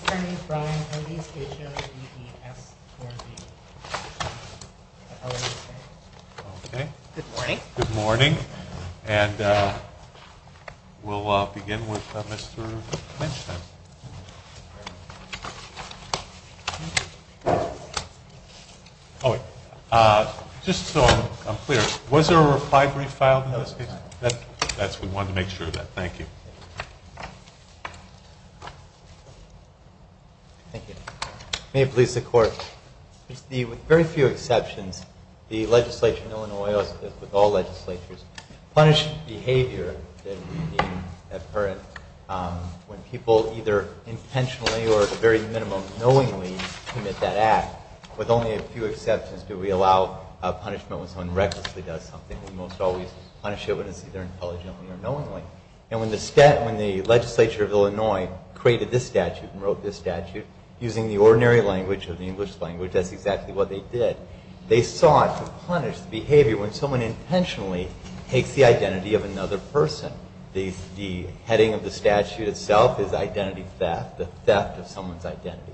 HMVDS 4B. Good morning. Good morning. And we'll begin with Mr. Mench then. Just so I'm clear, was there a reply brief filed in this case? We wanted to make sure of that. Thank you. Thank you. May it please the Court. With very few exceptions, the legislature in Illinois, as with all legislatures, punish behavior when people either intentionally or at the very minimum knowingly commit that act. With only a few exceptions do we allow a punishment when someone recklessly does something. We most always punish it when it's either intelligently or knowingly. And when the legislature of Illinois created this statute and wrote this statute using the ordinary language of the English language, that's exactly what they did, they sought to punish the behavior when someone intentionally takes the identity of another person. The heading of the statute itself is identity theft, the theft of someone's identity.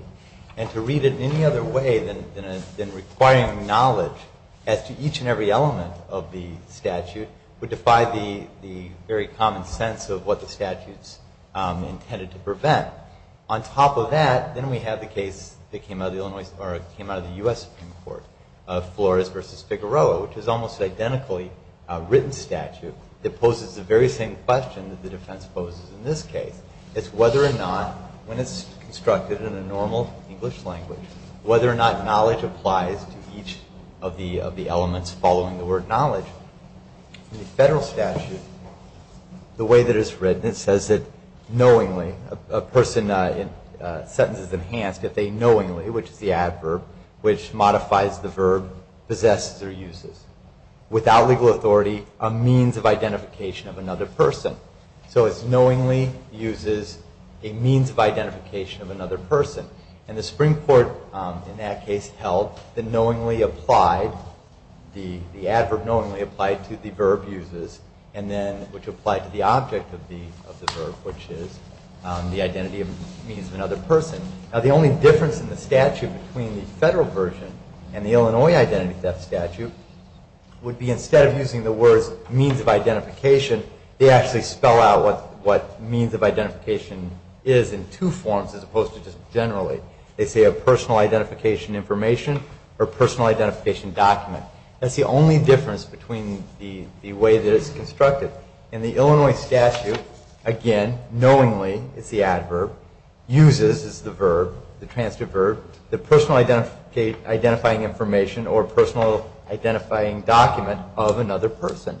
And to read it any other way than requiring knowledge as to each and every element of the statute would defy the very common sense of what the statute's intended to prevent. On top of that, then we have the case that came out of the U.S. Supreme Court, Flores v. Figueroa, which is almost identically a written statute that poses the very same question that the defense poses in this case. It's whether or not, when it's constructed in a normal English language, whether or not knowledge applies to each of the elements following the word knowledge. In the federal statute, the way that it's written, it says that knowingly, a person's sentence is enhanced if they knowingly, which is the adverb, which modifies the verb, possess their uses. Without legal authority, a means of identification of another person. So it's knowingly uses a means of identification of another person. And the Supreme Court in that case held that knowingly applied, the adverb knowingly applied to the verb uses, and then which applied to the object of the verb, which is the identity of means of another person. Now the only difference in the statute between the federal version and the Illinois identity theft statute would be instead of using the words means of identification, they actually spell out what means of identification is in two forms, as opposed to just generally. They say a personal identification information or personal identification document. That's the only difference between the way that it's constructed. In the Illinois statute, again, knowingly, it's the adverb, uses is the verb, the transitive verb, the personal identifying information or personal identifying document of another person.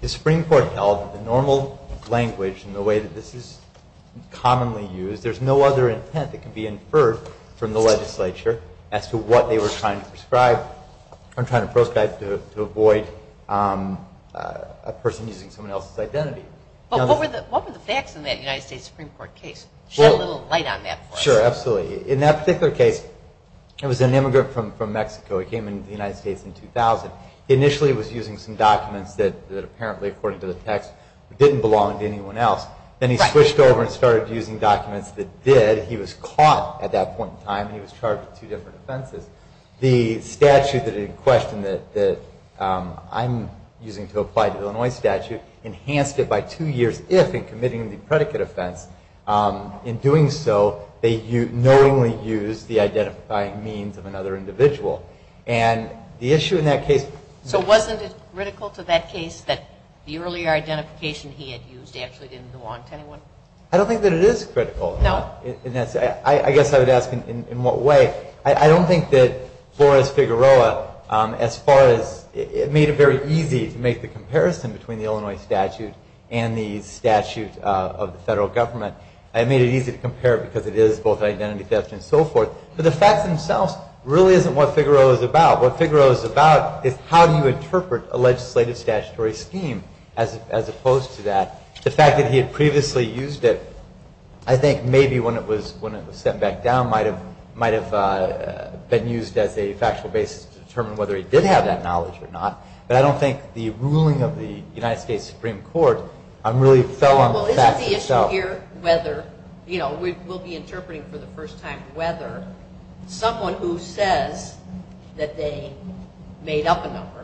The Supreme Court held that the normal language and the way that this is commonly used, there's no other intent that can be inferred from the legislature as to what they were trying to prescribe or trying to proscribe to avoid a person using someone else's identity. What were the facts in that United States Supreme Court case? Just shed a little light on that for us. Sure, absolutely. In that particular case, it was an immigrant from Mexico. He came into the United States in 2000. Initially he was using some documents that apparently, according to the text, didn't belong to anyone else. Then he switched over and started using documents that did. He was caught at that point in time, and he was charged with two different offenses. The statute that he questioned that I'm using to apply to the Illinois statute enhanced it by two years if, in committing the predicate offense, in doing so they knowingly used the identifying means of another individual. And the issue in that case- So wasn't it critical to that case that the earlier identification he had used actually didn't belong to anyone? I don't think that it is critical. No? I guess I would ask in what way. I don't think that Flores-Figueroa, as far as- It made it very easy to make the comparison between the Illinois statute and the statute of the federal government. It made it easy to compare because it is both identity theft and so forth. But the facts themselves really isn't what Figueroa is about. What Figueroa is about is how do you interpret a legislative statutory scheme as opposed to that. The fact that he had previously used it, I think maybe when it was sent back down, might have been used as a factual basis to determine whether he did have that knowledge or not. But I don't think the ruling of the United States Supreme Court really fell on the facts itself. Well, isn't the issue here whether- We'll be interpreting for the first time whether someone who says that they made up a number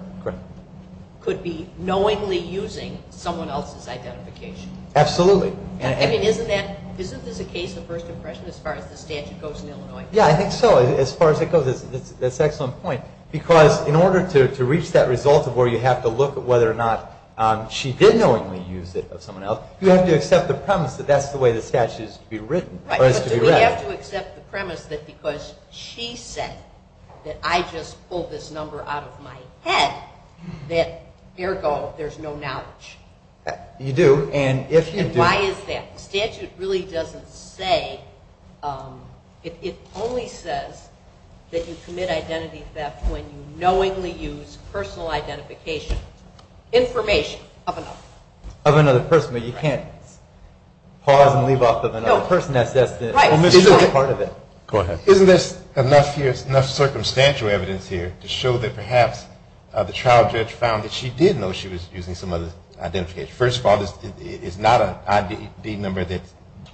could be knowingly using someone else's identification. Absolutely. Isn't this a case of first impression as far as the statute goes in Illinois? Yeah, I think so. As far as it goes, that's an excellent point. Because in order to reach that result of where you have to look at whether or not she did knowingly use it of someone else, you have to accept the premise that that's the way the statute is to be read. Do we have to accept the premise that because she said that I just pulled this number out of my head, that ergo there's no knowledge? You do. And if you do- And why is that? The statute really doesn't say. It only says that you commit identity theft when you knowingly use personal identification information of another. Of another person, but you can't pause and leave off of another person that says this. Right. Isn't this part of it? Go ahead. Isn't this enough circumstantial evidence here to show that perhaps the trial judge found that she did know she was using some other identification? First of all, it's not an ID number that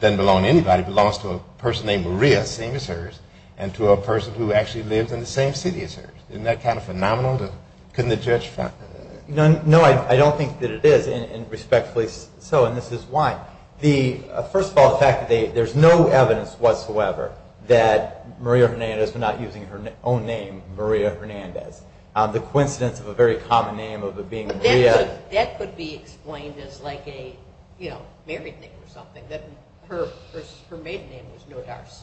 doesn't belong to anybody. It belongs to a person named Maria, same as hers, and to a person who actually lives in the same city as hers. Isn't that kind of phenomenal? Couldn't the judge find that? No, I don't think that it is, and respectfully so, and this is why. First of all, the fact that there's no evidence whatsoever that Maria Hernandez was not using her own name, Maria Hernandez. The coincidence of a very common name of it being Maria- Maria. That could be explained as like a married name or something, that her maiden name was No D'Arce.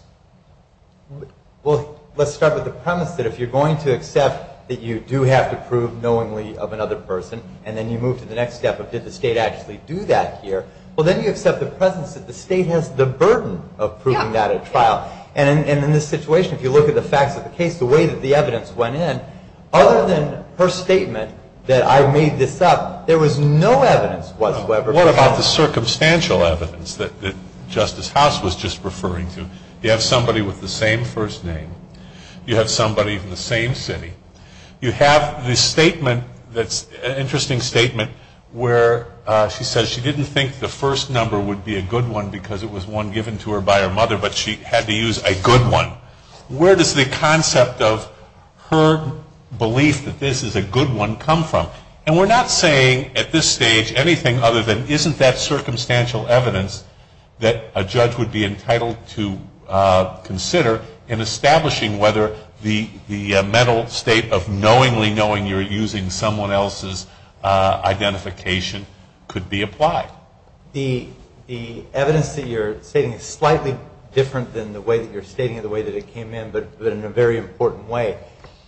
Well, let's start with the premise that if you're going to accept that you do have to prove knowingly of another person, and then you move to the next step of did the state actually do that here? Well, then you accept the presence that the state has the burden of proving that at trial. And in this situation, if you look at the facts of the case, the way that the evidence went in, other than her statement that I made this up, there was no evidence whatsoever. What about the circumstantial evidence that Justice House was just referring to? You have somebody with the same first name. You have somebody from the same city. You have this statement that's an interesting statement where she says she didn't think the first number would be a good one because it was one given to her by her mother, but she had to use a good one. Where does the concept of her belief that this is a good one come from? And we're not saying at this stage anything other than isn't that circumstantial evidence that a judge would be entitled to consider in establishing whether the mental state of knowingly knowing you're using someone else's identification could be applied. The evidence that you're stating is slightly different than the way that you're stating it, the way that it came in, but in a very important way.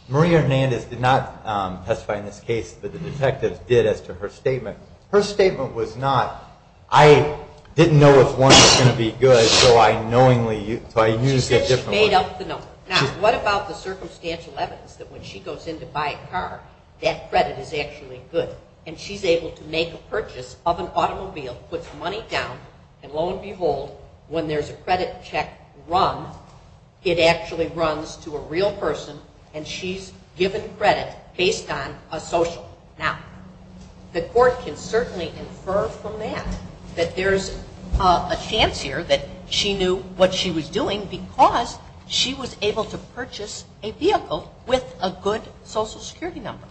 Maria Hernandez did not testify in this case, but the detective did as to her statement. Her statement was not, I didn't know if one was going to be good, so I used a different one. She said she made up the number. Now, what about the circumstantial evidence that when she goes in to buy a car, that credit is actually good, and she's able to make a purchase of an automobile, puts money down, and lo and behold, when there's a credit check run, it actually runs to a real person, and she's given credit based on a social. Now, the court can certainly infer from that that there's a chance here that she knew what she was doing because she was able to purchase a vehicle with a good social security number.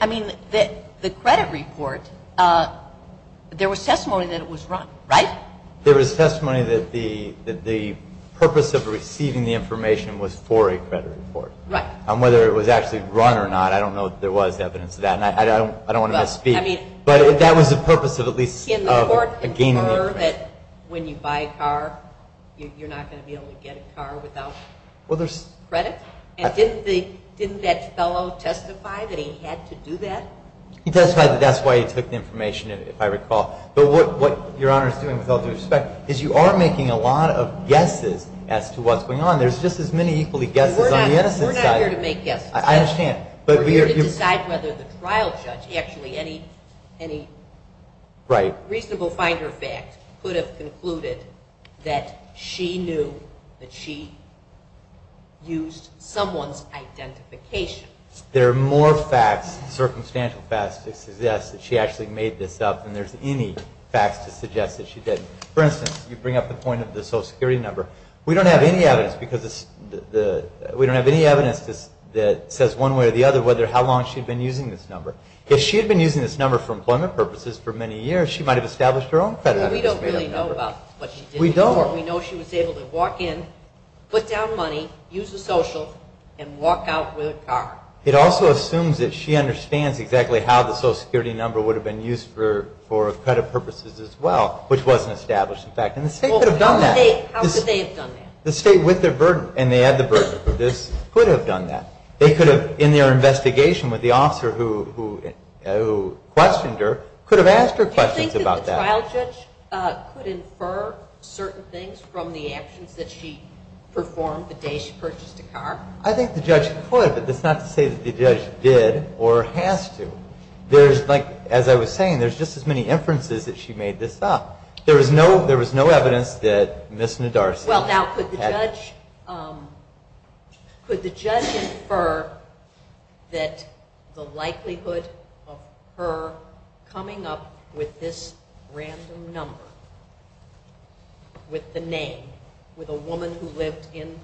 I mean, the credit report, there was testimony that it was run, right? There was testimony that the purpose of receiving the information was for a credit report. Right. Whether it was actually run or not, I don't know if there was evidence of that, and I don't want to misspeak, but that was the purpose of at least gaining the information. Can the court infer that when you buy a car, you're not going to be able to get a car without credit? And didn't that fellow testify that he had to do that? He testified that that's why he took the information, if I recall. But what Your Honor is doing, with all due respect, is you are making a lot of guesses as to what's going on. There's just as many equally guesses on the innocent side. We're not here to make guesses. I understand. We're here to decide whether the trial judge, actually any reasonable finder fact, could have concluded that she knew that she used someone's identification. There are more facts, circumstantial facts, to suggest that she actually made this up than there's any facts to suggest that she didn't. For instance, you bring up the point of the Social Security number. We don't have any evidence that says one way or the other how long she'd been using this number. If she had been using this number for employment purposes for many years, she might have established her own credit. We don't really know about what she did. We don't. We know she was able to walk in, put down money, use the social, and walk out with a car. It also assumes that she understands exactly how the Social Security number would have been used for credit purposes as well, which wasn't established, in fact. And the State could have done that. How could they have done that? The State, with their burden, and they had the burden to produce, could have done that. They could have, in their investigation with the officer who questioned her, could have asked her questions about that. Do you think that the trial judge could infer certain things from the actions that she performed the day she purchased a car? I think the judge could, but that's not to say that the judge did or has to. There's, like, as I was saying, there's just as many inferences that she made this up. There was no evidence that Ms. Nadarcy had- this random number with the name, with a woman who lived in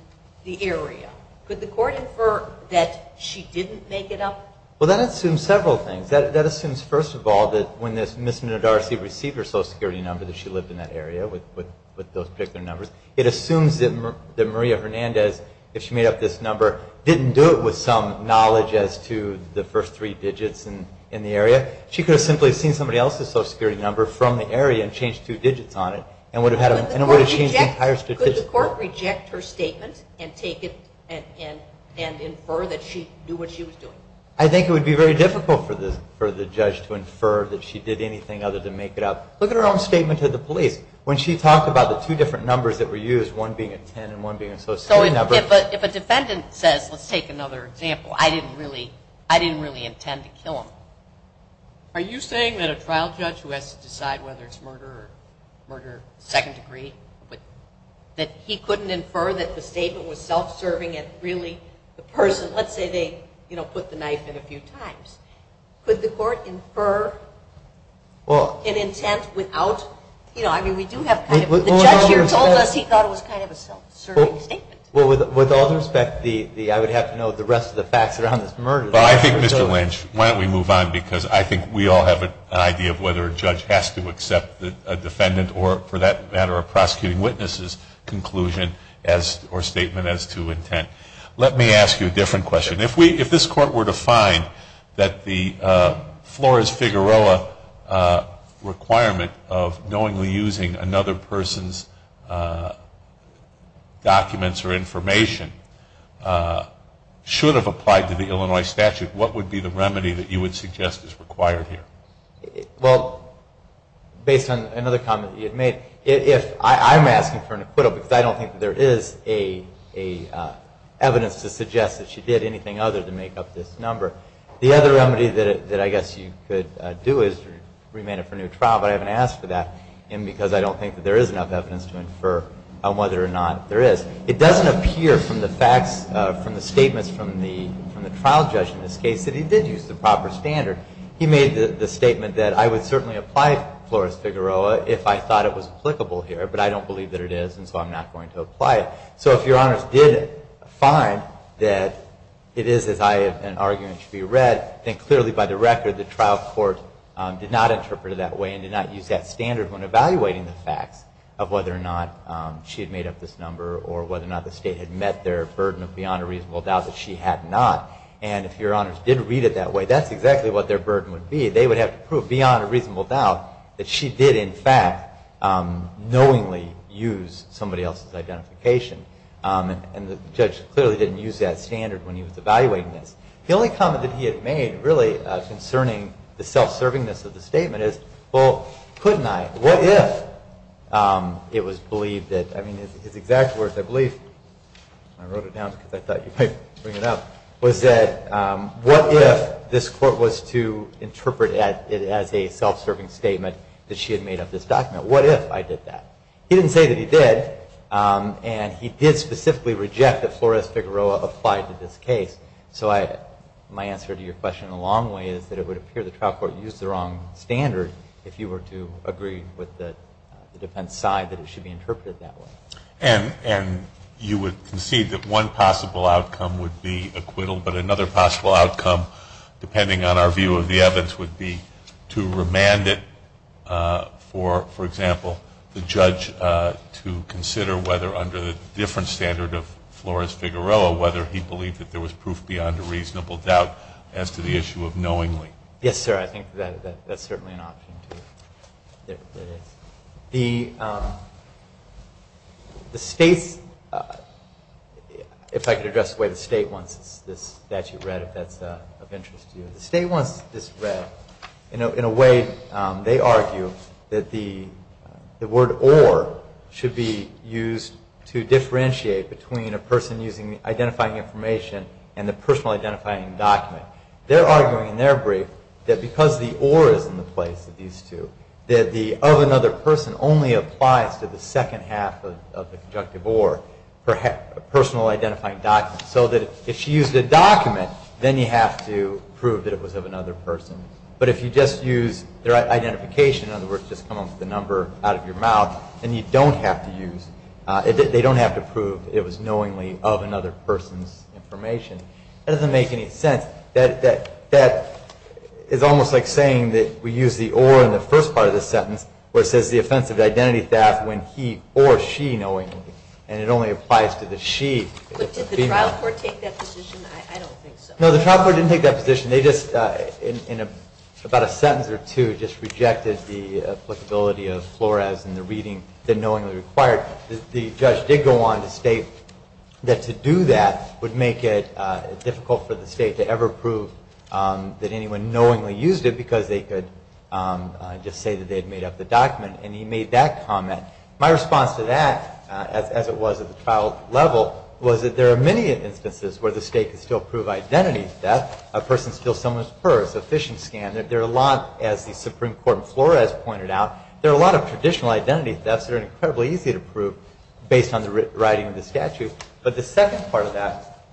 the area. Could the court infer that she didn't make it up? Well, that assumes several things. That assumes, first of all, that when Ms. Nadarcy received her Social Security number, that she lived in that area with those particular numbers. It assumes that Maria Hernandez, if she made up this number, didn't do it with some knowledge as to the first three digits in the area. She could have simply seen somebody else's Social Security number from the area and changed two digits on it, and it would have changed the entire statistic. Could the court reject her statement and take it and infer that she knew what she was doing? I think it would be very difficult for the judge to infer that she did anything other than make it up. Look at her own statement to the police. When she talked about the two different numbers that were used, one being a 10 and one being a Social Security number- So if a defendant says, let's take another example, I didn't really intend to kill him. Are you saying that a trial judge who has to decide whether it's murder or murder second degree, that he couldn't infer that the statement was self-serving and really the person- let's say they put the knife in a few times. Could the court infer an intent without- I mean, we do have kind of- The judge here told us he thought it was kind of a self-serving statement. Well, with all due respect, I would have to know the rest of the facts around this murder. Well, I think, Mr. Lynch, why don't we move on, because I think we all have an idea of whether a judge has to accept a defendant or, for that matter, a prosecuting witness's conclusion or statement as to intent. Let me ask you a different question. If this Court were to find that the Flores-Figueroa requirement of knowingly using another person's documents or information should have applied to the Illinois statute, what would be the remedy that you would suggest is required here? Well, based on another comment you had made, I'm asking for an acquittal because I don't think there is evidence to suggest that she did anything other than make up this number. The other remedy that I guess you could do is remand her for a new trial, but I haven't asked for that because I don't think there is enough evidence to infer on whether or not there is. It doesn't appear from the facts, from the statements from the trial judge in this case, that he did use the proper standard. He made the statement that I would certainly apply to Flores-Figueroa if I thought it was applicable here, but I don't believe that it is, and so I'm not going to apply it. So if Your Honors did find that it is as I have argued it should be read, then clearly by the record the trial court did not interpret it that way and did not use that standard when evaluating the facts of whether or not she had made up this number or whether or not the state had met their burden of beyond a reasonable doubt that she had not. And if Your Honors did read it that way, that's exactly what their burden would be. They would have to prove beyond a reasonable doubt that she did in fact knowingly use somebody else's identification. And the judge clearly didn't use that standard when he was evaluating this. The only comment that he had made really concerning the self-servingness of the statement is, well, couldn't I? What if it was believed that, I mean, his exact words, I believe, I wrote it down because I thought you might bring it up, was that what if this court was to interpret it as a self-serving statement that she had made up this document? What if I did that? He didn't say that he did, and he did specifically reject that Flores-Figueroa applied to this case. So my answer to your question in a long way is that it would appear the trial court used the wrong standard if you were to agree with the defense side that it should be interpreted that way. And you would concede that one possible outcome would be acquittal, but another possible outcome, depending on our view of the evidence, would be to remand it for, for example, the judge to consider whether under the different standard of Flores-Figueroa, whether he believed that there was proof beyond a reasonable doubt as to the issue of knowingly. Yes, sir, I think that's certainly an option, too. There it is. The state's, if I could address the way the state wants this statute read, if that's of interest to you. The state wants this read in a way, they argue, that the word or should be used to differentiate between a person using identifying information and the personal identifying document. They're arguing in their brief that because the or is in the place of these two, that the of another person only applies to the second half of the conjunctive or, personal identifying document. So that if she used a document, then you have to prove that it was of another person. But if you just use their identification, in other words, just come up with a number out of your mouth, then you don't have to use, they don't have to prove it was knowingly of another person's information. That doesn't make any sense. That is almost like saying that we use the or in the first part of the sentence, where it says the offensive identity theft when he or she knowingly, and it only applies to the she. But did the trial court take that position? I don't think so. No, the trial court didn't take that position. They just, in about a sentence or two, just rejected the applicability of Flores and the reading that knowingly required. The judge did go on to state that to do that would make it difficult for the state to ever prove that anyone knowingly used it because they could just say that they had made up the document. And he made that comment. My response to that, as it was at the trial level, was that there are many instances where the state could still prove identity theft, a person steals someone's purse, a phishing scam. There are a lot, as the Supreme Court in Flores pointed out, there are a lot of traditional identity thefts that are incredibly easy to prove based on the writing of the statute. But the second part of that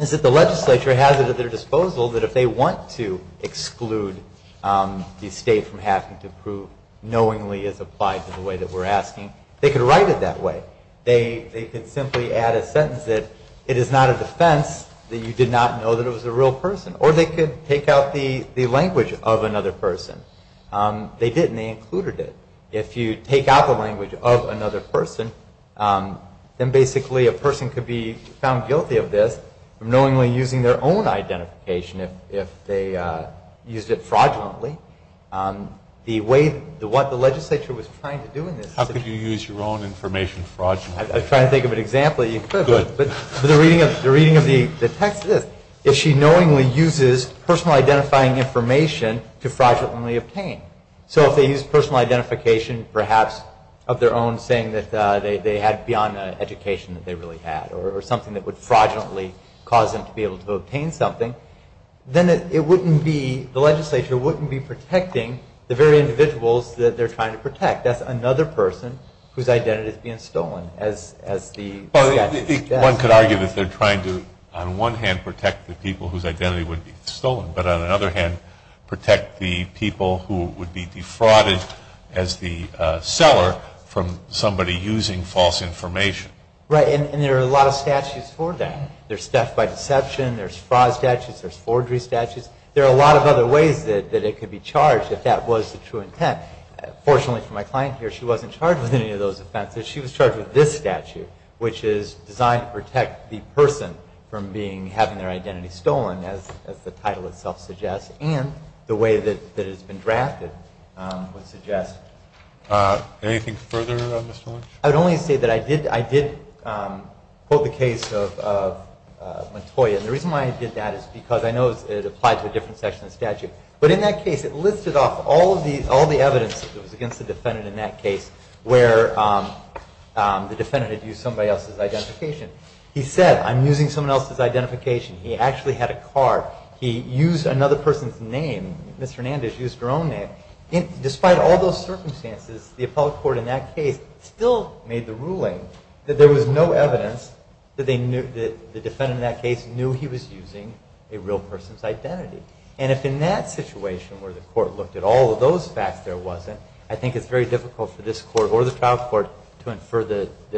is that the legislature has it at their disposal that if they want to exclude the state from having to prove knowingly as applied to the way that we're asking, they could write it that way. They could simply add a sentence that it is not a defense that you did not know that it was a real person, or they could take out the language of another person. They did, and they included it. If you take out the language of another person, then basically a person could be found guilty of this, knowingly using their own identification if they used it fraudulently. The way, what the legislature was trying to do in this. How could you use your own information fraudulently? I'm trying to think of an example you could. Good. But the reading of the text is, if she knowingly uses personal identifying information to fraudulently obtain. So if they use personal identification, perhaps of their own, saying that they had beyond an education that they really had, or something that would fraudulently cause them to be able to obtain something, then it wouldn't be, the legislature wouldn't be protecting the very individuals that they're trying to protect. That's another person whose identity is being stolen. One could argue that they're trying to, on one hand, protect the people whose identity would be stolen, but on another hand, protect the people who would be defrauded as the seller from somebody using false information. Right, and there are a lot of statutes for that. There's theft by deception. There's fraud statutes. There's forgery statutes. There are a lot of other ways that it could be charged if that was the true intent. Fortunately for my client here, she wasn't charged with any of those offenses. She was charged with this statute, which is designed to protect the person from having their identity stolen, as the title itself suggests, and the way that it has been drafted would suggest. Anything further, Mr. Lynch? I would only say that I did quote the case of Montoya, and the reason why I did that is because I know it applied to a different section of the statute. But in that case, it listed off all the evidence that was against the defendant in that case where the defendant had used somebody else's identification. He said, I'm using someone else's identification. He actually had a card. He used another person's name. Ms. Hernandez used her own name. Despite all those circumstances, the appellate court in that case still made the ruling that there was no evidence that the defendant in that case knew he was using a real person's identity. And if in that situation where the court looked at all of those facts there wasn't, I think it's very difficult for this court or the trial court to infer that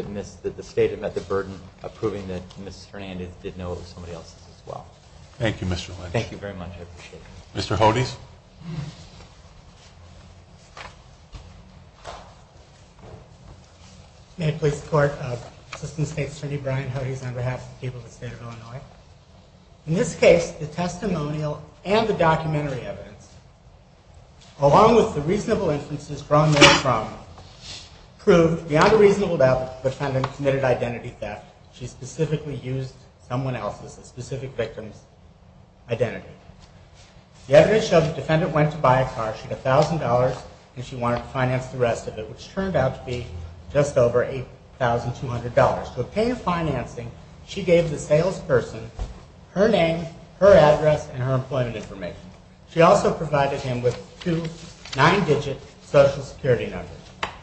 the state had met the burden of proving that Ms. Hernandez did know it was somebody else's as well. Thank you, Mr. Lynch. Thank you very much. I appreciate it. Mr. Hodes? May it please the Court, Assistant State Attorney Brian Hodes, on behalf of the people of the State of Illinois. In this case, the testimonial and the documentary evidence, along with the reasonable inferences drawn therefrom, proved beyond a reasonable doubt that the defendant committed identity theft. She specifically used someone else's, a specific victim's, identity. The evidence showed the defendant went to buy a car. She had $1,000 and she wanted to finance the rest of it, which turned out to be just over $8,200. To obtain financing, she gave the salesperson her name, her address, and her employment information. She also provided him with two nine-digit Social Security numbers,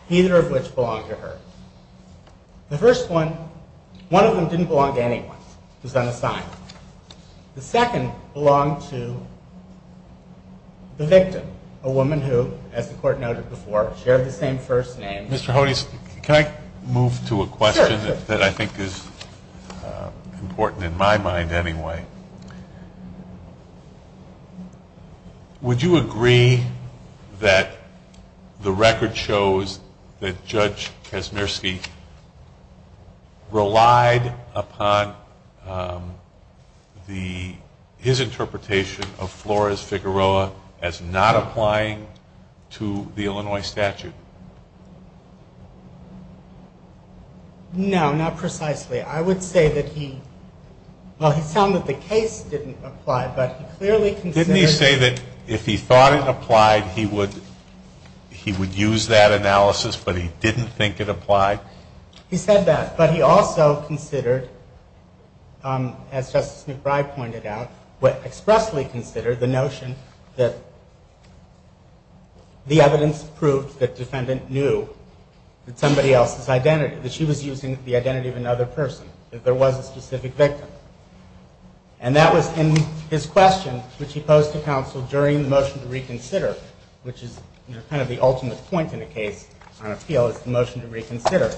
either of which belonged to her. The first one, one of them didn't belong to anyone. It was unassigned. The second belonged to the victim, a woman who, as the Court noted before, shared the same first name. Mr. Hodes, can I move to a question that I think is important in my mind anyway? Would you agree that the record shows that Judge Kaczmierski relied upon his interpretation of Flores Figueroa as not applying to the Illinois statute? No, not precisely. I would say that he, well, he found that the case didn't apply, but he clearly considered Didn't he say that if he thought it applied, he would use that analysis, but he didn't think it applied? He said that, but he also considered, as Justice McBride pointed out, expressly considered the notion that the evidence proved that defendant knew that somebody else's identity, that she was using the identity of another person, that there was a specific victim. And that was in his question, which he posed to counsel during the motion to reconsider, which is kind of the ultimate point in a case on appeal, is the motion to reconsider.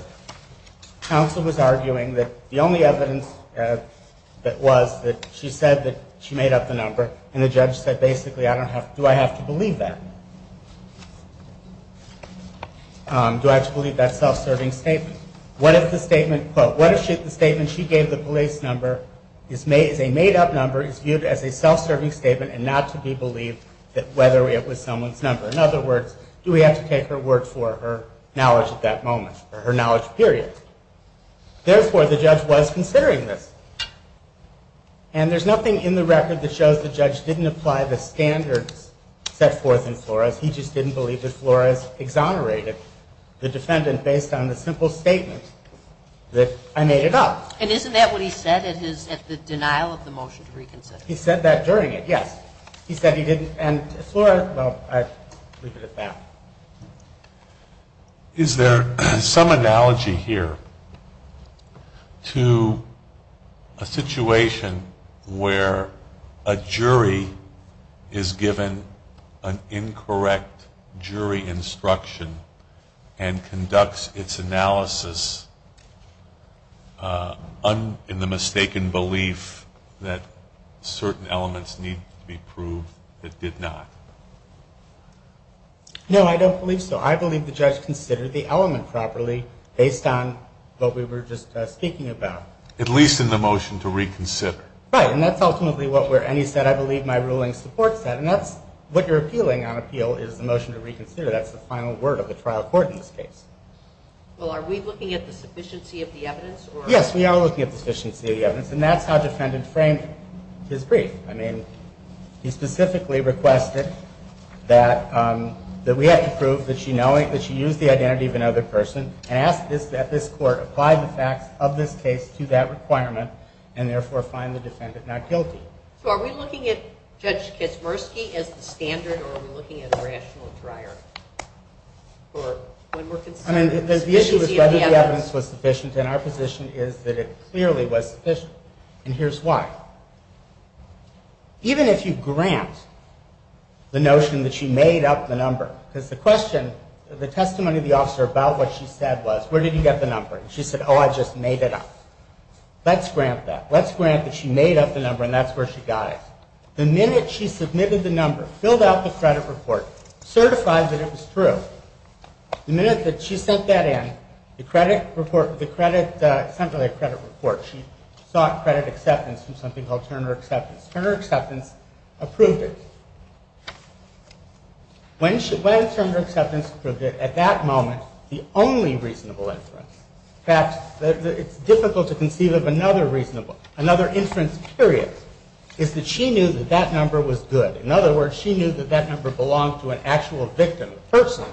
Counsel was arguing that the only evidence that was that she said that she made up the number, and the judge said, basically, do I have to believe that? Do I have to believe that self-serving statement? What if the statement, quote, what if the statement she gave the police number is a made-up number, is viewed as a self-serving statement, and not to be believed that whether it was someone's number? In other words, do we have to take her word for her knowledge at that moment, or her knowledge period? Therefore, the judge was considering this. And there's nothing in the record that shows the judge didn't apply the standards set forth in Flores. He just didn't believe that Flores exonerated the defendant based on the simple statement that I made it up. And isn't that what he said at the denial of the motion to reconsider? He said that during it, yes. He said he didn't, and Flores, well, I leave it at that. Is there some analogy here to a situation where a jury is given an incorrect jury instruction and conducts its analysis in the mistaken belief that certain elements need to be proved that did not? No, I don't believe so. I believe the judge considered the element properly based on what we were just speaking about. At least in the motion to reconsider. Right. And that's ultimately what we're, and he said, I believe my ruling supports that. And that's what you're appealing on appeal is the motion to reconsider. That's the final word of the trial court in this case. Well, are we looking at the sufficiency of the evidence? Yes, we are looking at the sufficiency of the evidence. And that's how the defendant framed his brief. I mean, he specifically requested that we have to prove that she used the identity of another person and asked that this court apply the facts of this case to that requirement and therefore find the defendant not guilty. So are we looking at Judge Kaczmarski as the standard or are we looking at a rational trier? I mean, the issue is whether the evidence was sufficient, and our position is that it clearly was sufficient. And here's why. Even if you grant the notion that she made up the number, because the question, the testimony of the officer about what she said was, where did you get the number? She said, oh, I just made it up. Let's grant that. Let's grant that she made up the number and that's where she got it. The minute she submitted the number, filled out the credit report, certified that it was true, the minute that she sent that in, the credit report, the credit, something like credit report, she sought credit acceptance from something called Turner Acceptance. Turner Acceptance approved it. When Turner Acceptance approved it, at that moment, the only reasonable inference, in fact, it's difficult to conceive of another reasonable, another inference period is that she knew that that number was good. In other words, she knew that that number belonged to an actual victim, a person.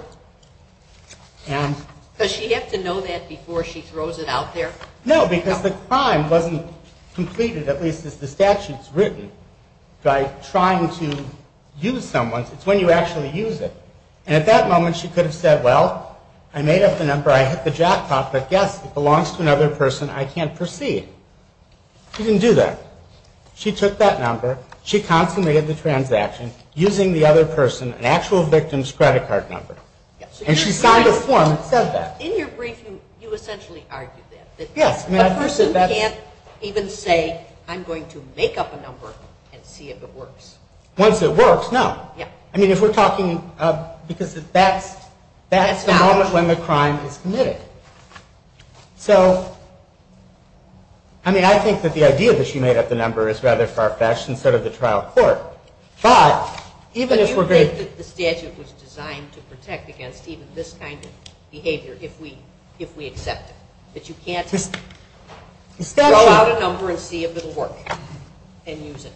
And... Does she have to know that before she throws it out there? No, because the crime wasn't completed, at least as the statute's written, by trying to use someone's. It's when you actually use it. And at that moment, she could have said, well, I made up the number. I hit the jackpot, but yes, it belongs to another person. I can't proceed. She didn't do that. She took that number. She consummated the transaction using the other person, an actual victim's credit card number. And she signed a form that said that. In your brief, you essentially argued that. Yes. A person can't even say, I'm going to make up a number and see if it works. Once it works, no. Yeah. I mean, if we're talking, because that's the moment when the crime is committed. So, I mean, I think that the idea that she made up the number is rather far-fetched instead of the trial court. But you think that the statute was designed to protect against even this kind of behavior if we accept it, that you can't throw out a number and see if it will work and use it.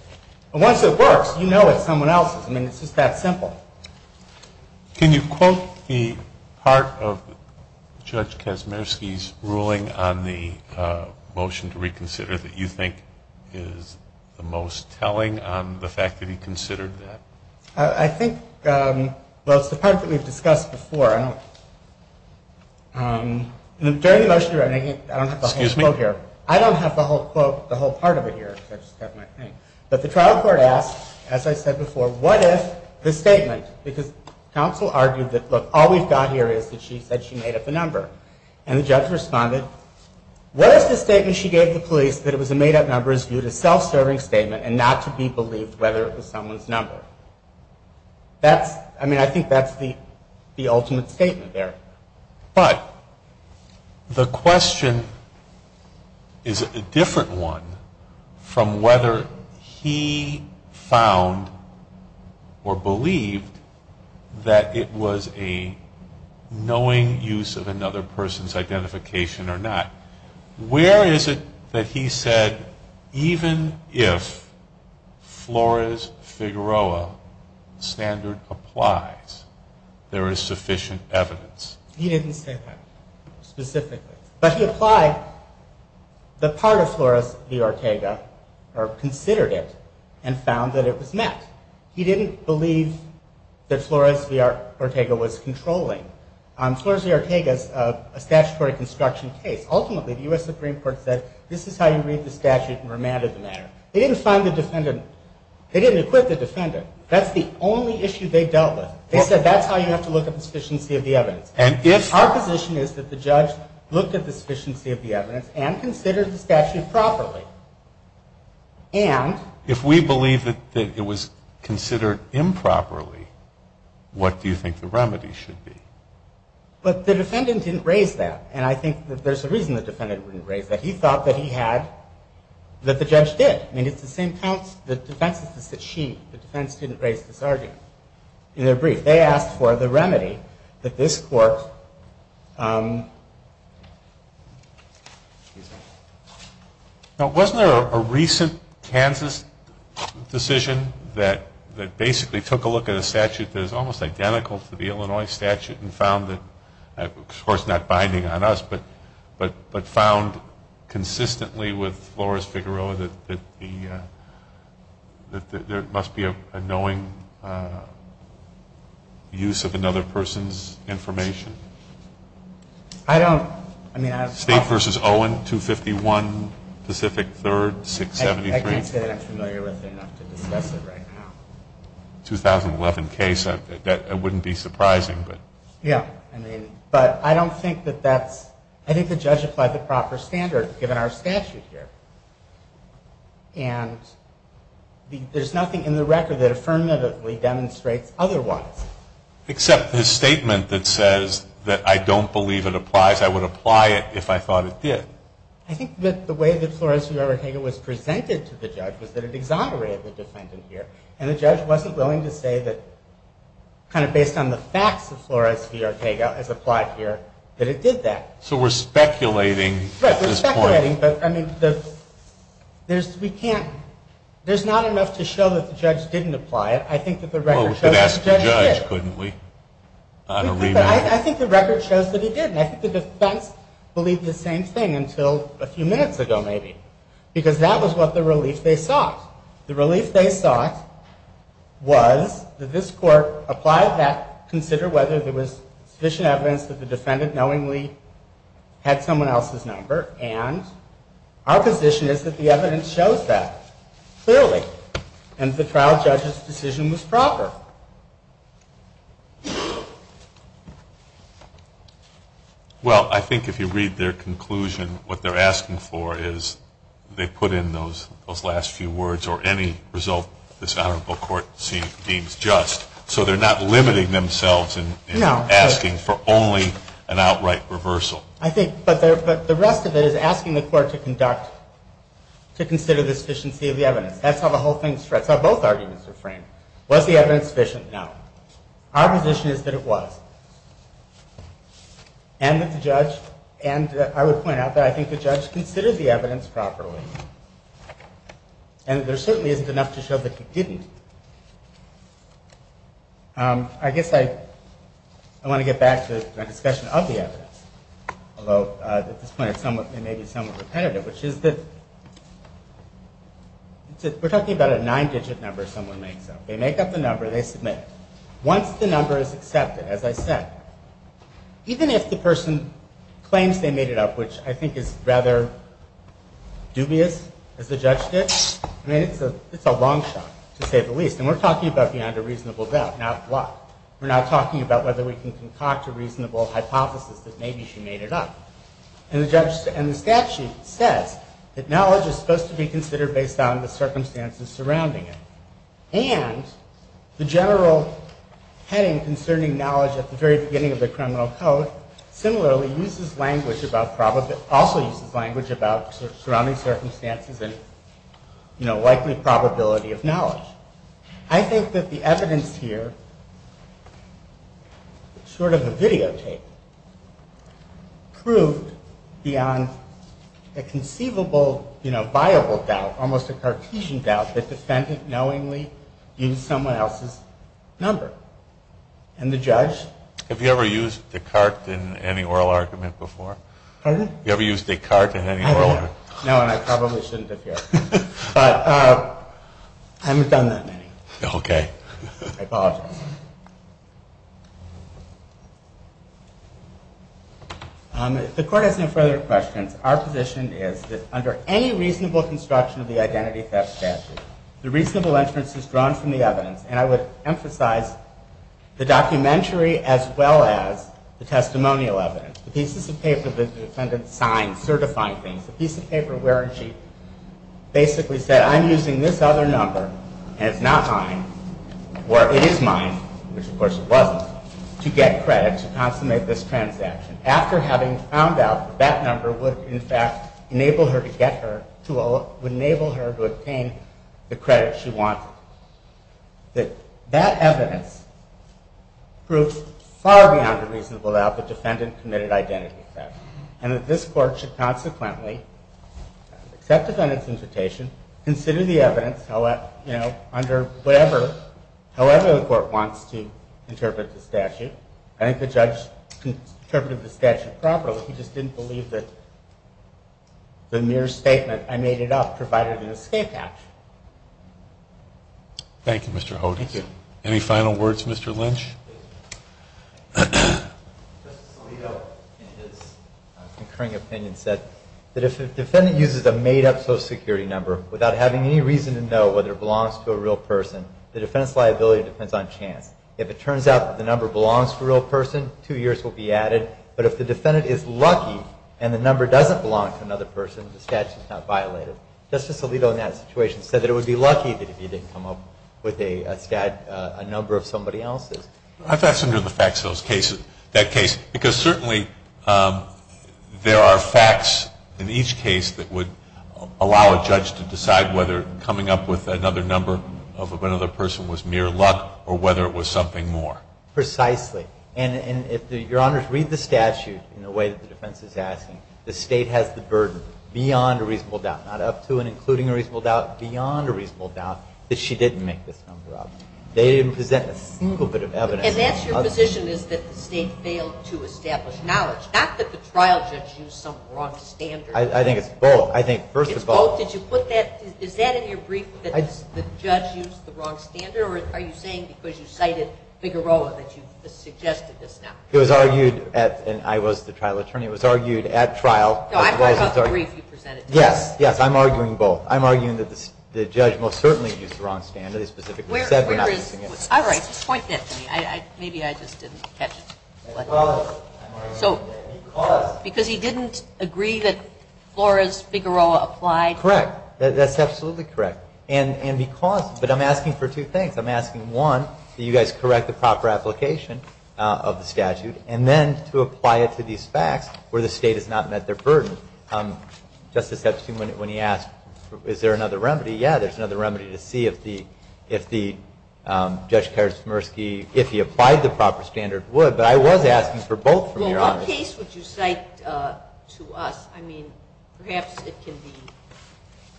Once it works, you know it's someone else's. I mean, it's just that simple. Can you quote the part of Judge Kaczmierski's ruling on the motion to reconsider that you think is the most telling on the fact that he considered that? I think, well, it's the part that we've discussed before. During the motion to reconsider, I don't have the whole quote here. I don't have the whole quote, the whole part of it here. But the trial court asked, as I said before, what if the statement, because counsel argued that, look, all we've got here is that she said she made up the number. And the judge responded, what if the statement she gave the police, that it was a made-up number, is viewed as self-serving statement and not to be believed whether it was someone's number? I mean, I think that's the ultimate statement there. But the question is a different one from whether he found or believed that it was a knowing use of another person's identification or not. Where is it that he said even if Flores-Figueroa standard applies, there is sufficient evidence? He didn't say that specifically. But he applied the part of Flores v. Ortega or considered it and found that it was met. He didn't believe that Flores v. Ortega was controlling. Flores v. Ortega is a statutory construction case. Ultimately, the U.S. Supreme Court said this is how you read the statute and remanded the matter. They didn't find the defendant. They didn't acquit the defendant. That's the only issue they dealt with. They said that's how you have to look at the sufficiency of the evidence. Our position is that the judge looked at the sufficiency of the evidence and considered the statute properly. And if we believe that it was considered improperly, what do you think the remedy should be? But the defendant didn't raise that. And I think that there's a reason the defendant wouldn't raise that. He thought that he had, that the judge did. I mean, it's the same defense that she, the defense, didn't raise this argument. In their brief, they asked for the remedy that this court. Now, wasn't there a recent Kansas decision that basically took a look at a statute that is almost identical to the Illinois statute and found that, of course not binding on us, but found consistently with Flores v. Figueroa that there must be a knowing use of another person's information? I don't. State v. Owen, 251 Pacific 3rd, 673. I can't say that I'm familiar with it enough to discuss it right now. 2011 case. That wouldn't be surprising. Yeah. But I don't think that that's, I think the judge applied the proper standard given our statute here. And there's nothing in the record that affirmatively demonstrates otherwise. Except his statement that says that I don't believe it applies. I would apply it if I thought it did. I think that the way that Flores v. Figueroa was presented to the judge was that it exaggerated the defendant here. And the judge wasn't willing to say that, kind of based on the facts of Flores v. Figueroa as applied here, that it did that. So we're speculating at this point. Right, we're speculating. But, I mean, there's, we can't, there's not enough to show that the judge didn't apply it. I think that the record shows that the judge did. Well, we could ask the judge, couldn't we? I think the record shows that he did. And I think the defense believed the same thing until a few minutes ago, maybe. Because that was what the relief they sought. The relief they sought was that this court applied that, consider whether there was sufficient evidence that the defendant knowingly had someone else's number. And our position is that the evidence shows that, clearly. And the trial judge's decision was proper. Well, I think if you read their conclusion, what they're asking for is they put in those last few words or any result this honorable court deems just. So they're not limiting themselves in asking for only an outright reversal. I think, but the rest of it is asking the court to conduct, to consider the sufficiency of the evidence. That's how the whole thing, that's how both arguments are framed. Was the evidence sufficient? No. Our position is that it was. And that the judge, and I would point out that I think the judge considered the evidence properly. And there certainly isn't enough to show that he didn't. I guess I want to get back to the discussion of the evidence, although at this point it may be somewhat repetitive, which is that we're talking about a nine-digit number someone makes up. They make up the number, they submit it. Once the number is accepted, as I said, even if the person claims they made it up, which I think is rather dubious, as the judge did, it's a long shot, to say the least. And we're talking about beyond a reasonable doubt, not what. We're not talking about whether we can concoct a reasonable hypothesis that maybe she made it up. And the statute says that knowledge is supposed to be considered based on the circumstances surrounding it. And the general heading concerning knowledge at the very beginning of the criminal code similarly also uses language about surrounding circumstances and likely probability of knowledge. I think that the evidence here, sort of a videotape, proved beyond a conceivable, viable doubt, almost a Cartesian doubt, that the defendant knowingly used someone else's number. And the judge? Have you ever used Descartes in any oral argument before? Pardon? Have you ever used Descartes in any oral argument? No, and I probably shouldn't have yet. But I haven't done that many. Okay. I apologize. If the court has no further questions, our position is that under any reasonable construction of the identity theft statute, the reasonable inference is drawn from the evidence. And I would emphasize the documentary as well as the testimonial evidence. The pieces of paper the defendant signed certifying things. The piece of paper where she basically said, I'm using this other number, and it's not mine, or it is mine, which of course it wasn't, to get credit to consummate this transaction. After having found out that that number would, in fact, enable her to get her, would enable her to obtain the credit she wanted. That that evidence proves far beyond the reasonable doubt the defendant committed identity theft. And that this court should consequently accept the defendant's invitation, consider the evidence under whatever, however the court wants to interpret the statute. I think the judge interpreted the statute properly. He just didn't believe that the mere statement, I made it up, provided an escape action. Thank you, Mr. Hogan. Thank you. Any final words, Mr. Lynch? Justice Alito, in his concurring opinion, said that if the defendant uses a made-up social security number without having any reason to know whether it belongs to a real person, the defendant's liability depends on chance. If it turns out that the number belongs to a real person, two years will be added. But if the defendant is lucky and the number doesn't belong to another person, the statute is not violated. Justice Alito, in that situation, said that it would be lucky if he didn't come up with a number of somebody else's. I fastened to the facts of that case, because certainly there are facts in each case that would allow a judge to decide whether coming up with another number of another person was mere luck or whether it was something more. Precisely. And if Your Honors read the statute in the way that the defense is asking, the State has the burden, beyond a reasonable doubt, not up to and including a reasonable doubt, beyond a reasonable doubt, that she didn't make this number up. They didn't present a single bit of evidence. And that's your position is that the State failed to establish knowledge, not that the trial judge used some wrong standard. I think it's both. It's both? Did you put that? Is that in your brief that the judge used the wrong standard, or are you saying because you cited Figueroa that you suggested this now? It was argued at, and I was the trial attorney, it was argued at trial. No, I brought up the brief you presented to me. Yes, yes, I'm arguing both. I'm arguing that the judge most certainly used the wrong standard. He specifically said we're not using it. All right, just point that to me. Maybe I just didn't catch it. Because. Because. Because he didn't agree that Flores-Figueroa applied? Correct. That's absolutely correct. But I'm asking for two things. I'm asking, one, that you guys correct the proper application of the statute, and then to apply it to these facts where the State has not met their burden. Justice Epstein, when he asked, is there another remedy, yeah, there's another remedy to see if Judge Karsmirsky, if he applied the proper standard, would. But I was asking for both from your end. Well, what case would you cite to us? I mean, perhaps it can be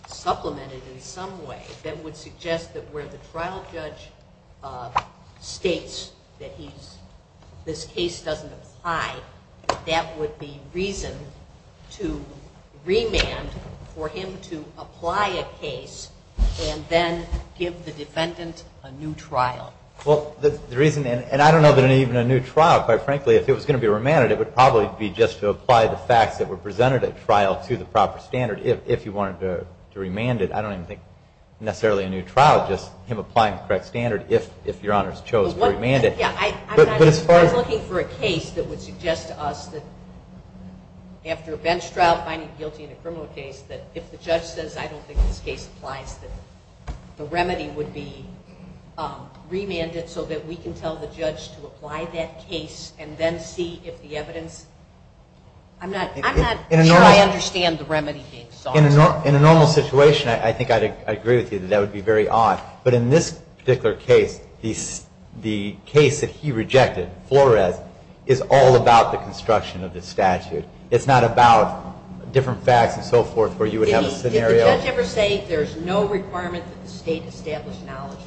supplemented in some way that would suggest that where the trial judge states that this case doesn't apply, that would be reason to remand for him to apply a case and then give the defendant a new trial. Well, the reason, and I don't know that even a new trial, quite frankly, if it was going to be remanded, it would probably be just to apply the facts that were presented at trial to the proper standard if he wanted to remand it. I don't even think necessarily a new trial, just him applying the correct standard if Your Honors chose to remand it. I was looking for a case that would suggest to us that after a bench trial, finding guilty in a criminal case, that if the judge says, I don't think this case applies, that the remedy would be remanded so that we can tell the judge to apply that case and then see if the evidence... I'm not sure I understand the remedy being sought. In a normal situation, I think I'd agree with you that that would be very odd. But in this particular case, the case that he rejected, Flores, is all about the construction of the statute. It's not about different facts and so forth where you would have a scenario. Did the judge ever say there's no requirement that the state establish knowledge?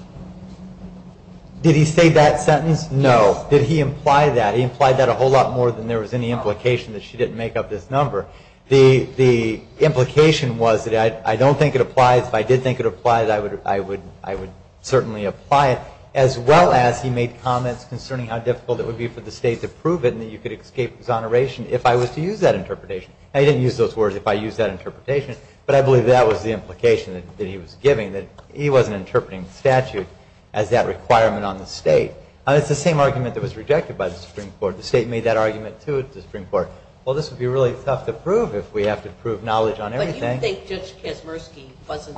Did he say that sentence? No. Did he imply that? He implied that a whole lot more than there was any implication that she didn't make up this number. The implication was that I don't think it applies. If I did think it applied, I would certainly apply it, as well as he made comments concerning how difficult it would be for the state to prove it and that you could escape exoneration if I was to use that interpretation. Now, he didn't use those words, if I used that interpretation, but I believe that was the implication that he was giving, that he wasn't interpreting the statute as that requirement on the state. It's the same argument that was rejected by the Supreme Court. The state made that argument, too, at the Supreme Court. Well, this would be really tough to prove if we have to prove knowledge on everything. But do you think Judge Kazmersky wasn't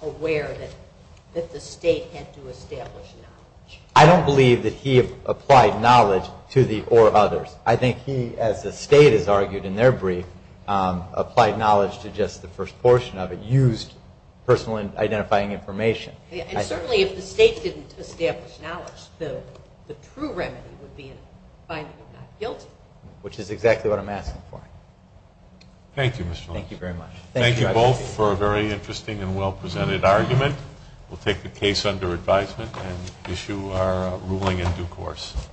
aware that the state had to establish knowledge? I don't believe that he applied knowledge to the or others. I think he, as the state has argued in their brief, applied knowledge to just the first portion of it, used personal identifying information. And certainly if the state didn't establish knowledge, the true remedy would be a finding of not guilty. Which is exactly what I'm asking for. Thank you, Mr. Lynch. Thank you very much. Thank you both for a very interesting and well-presented argument. We'll take the case under advisement and issue our ruling in due course.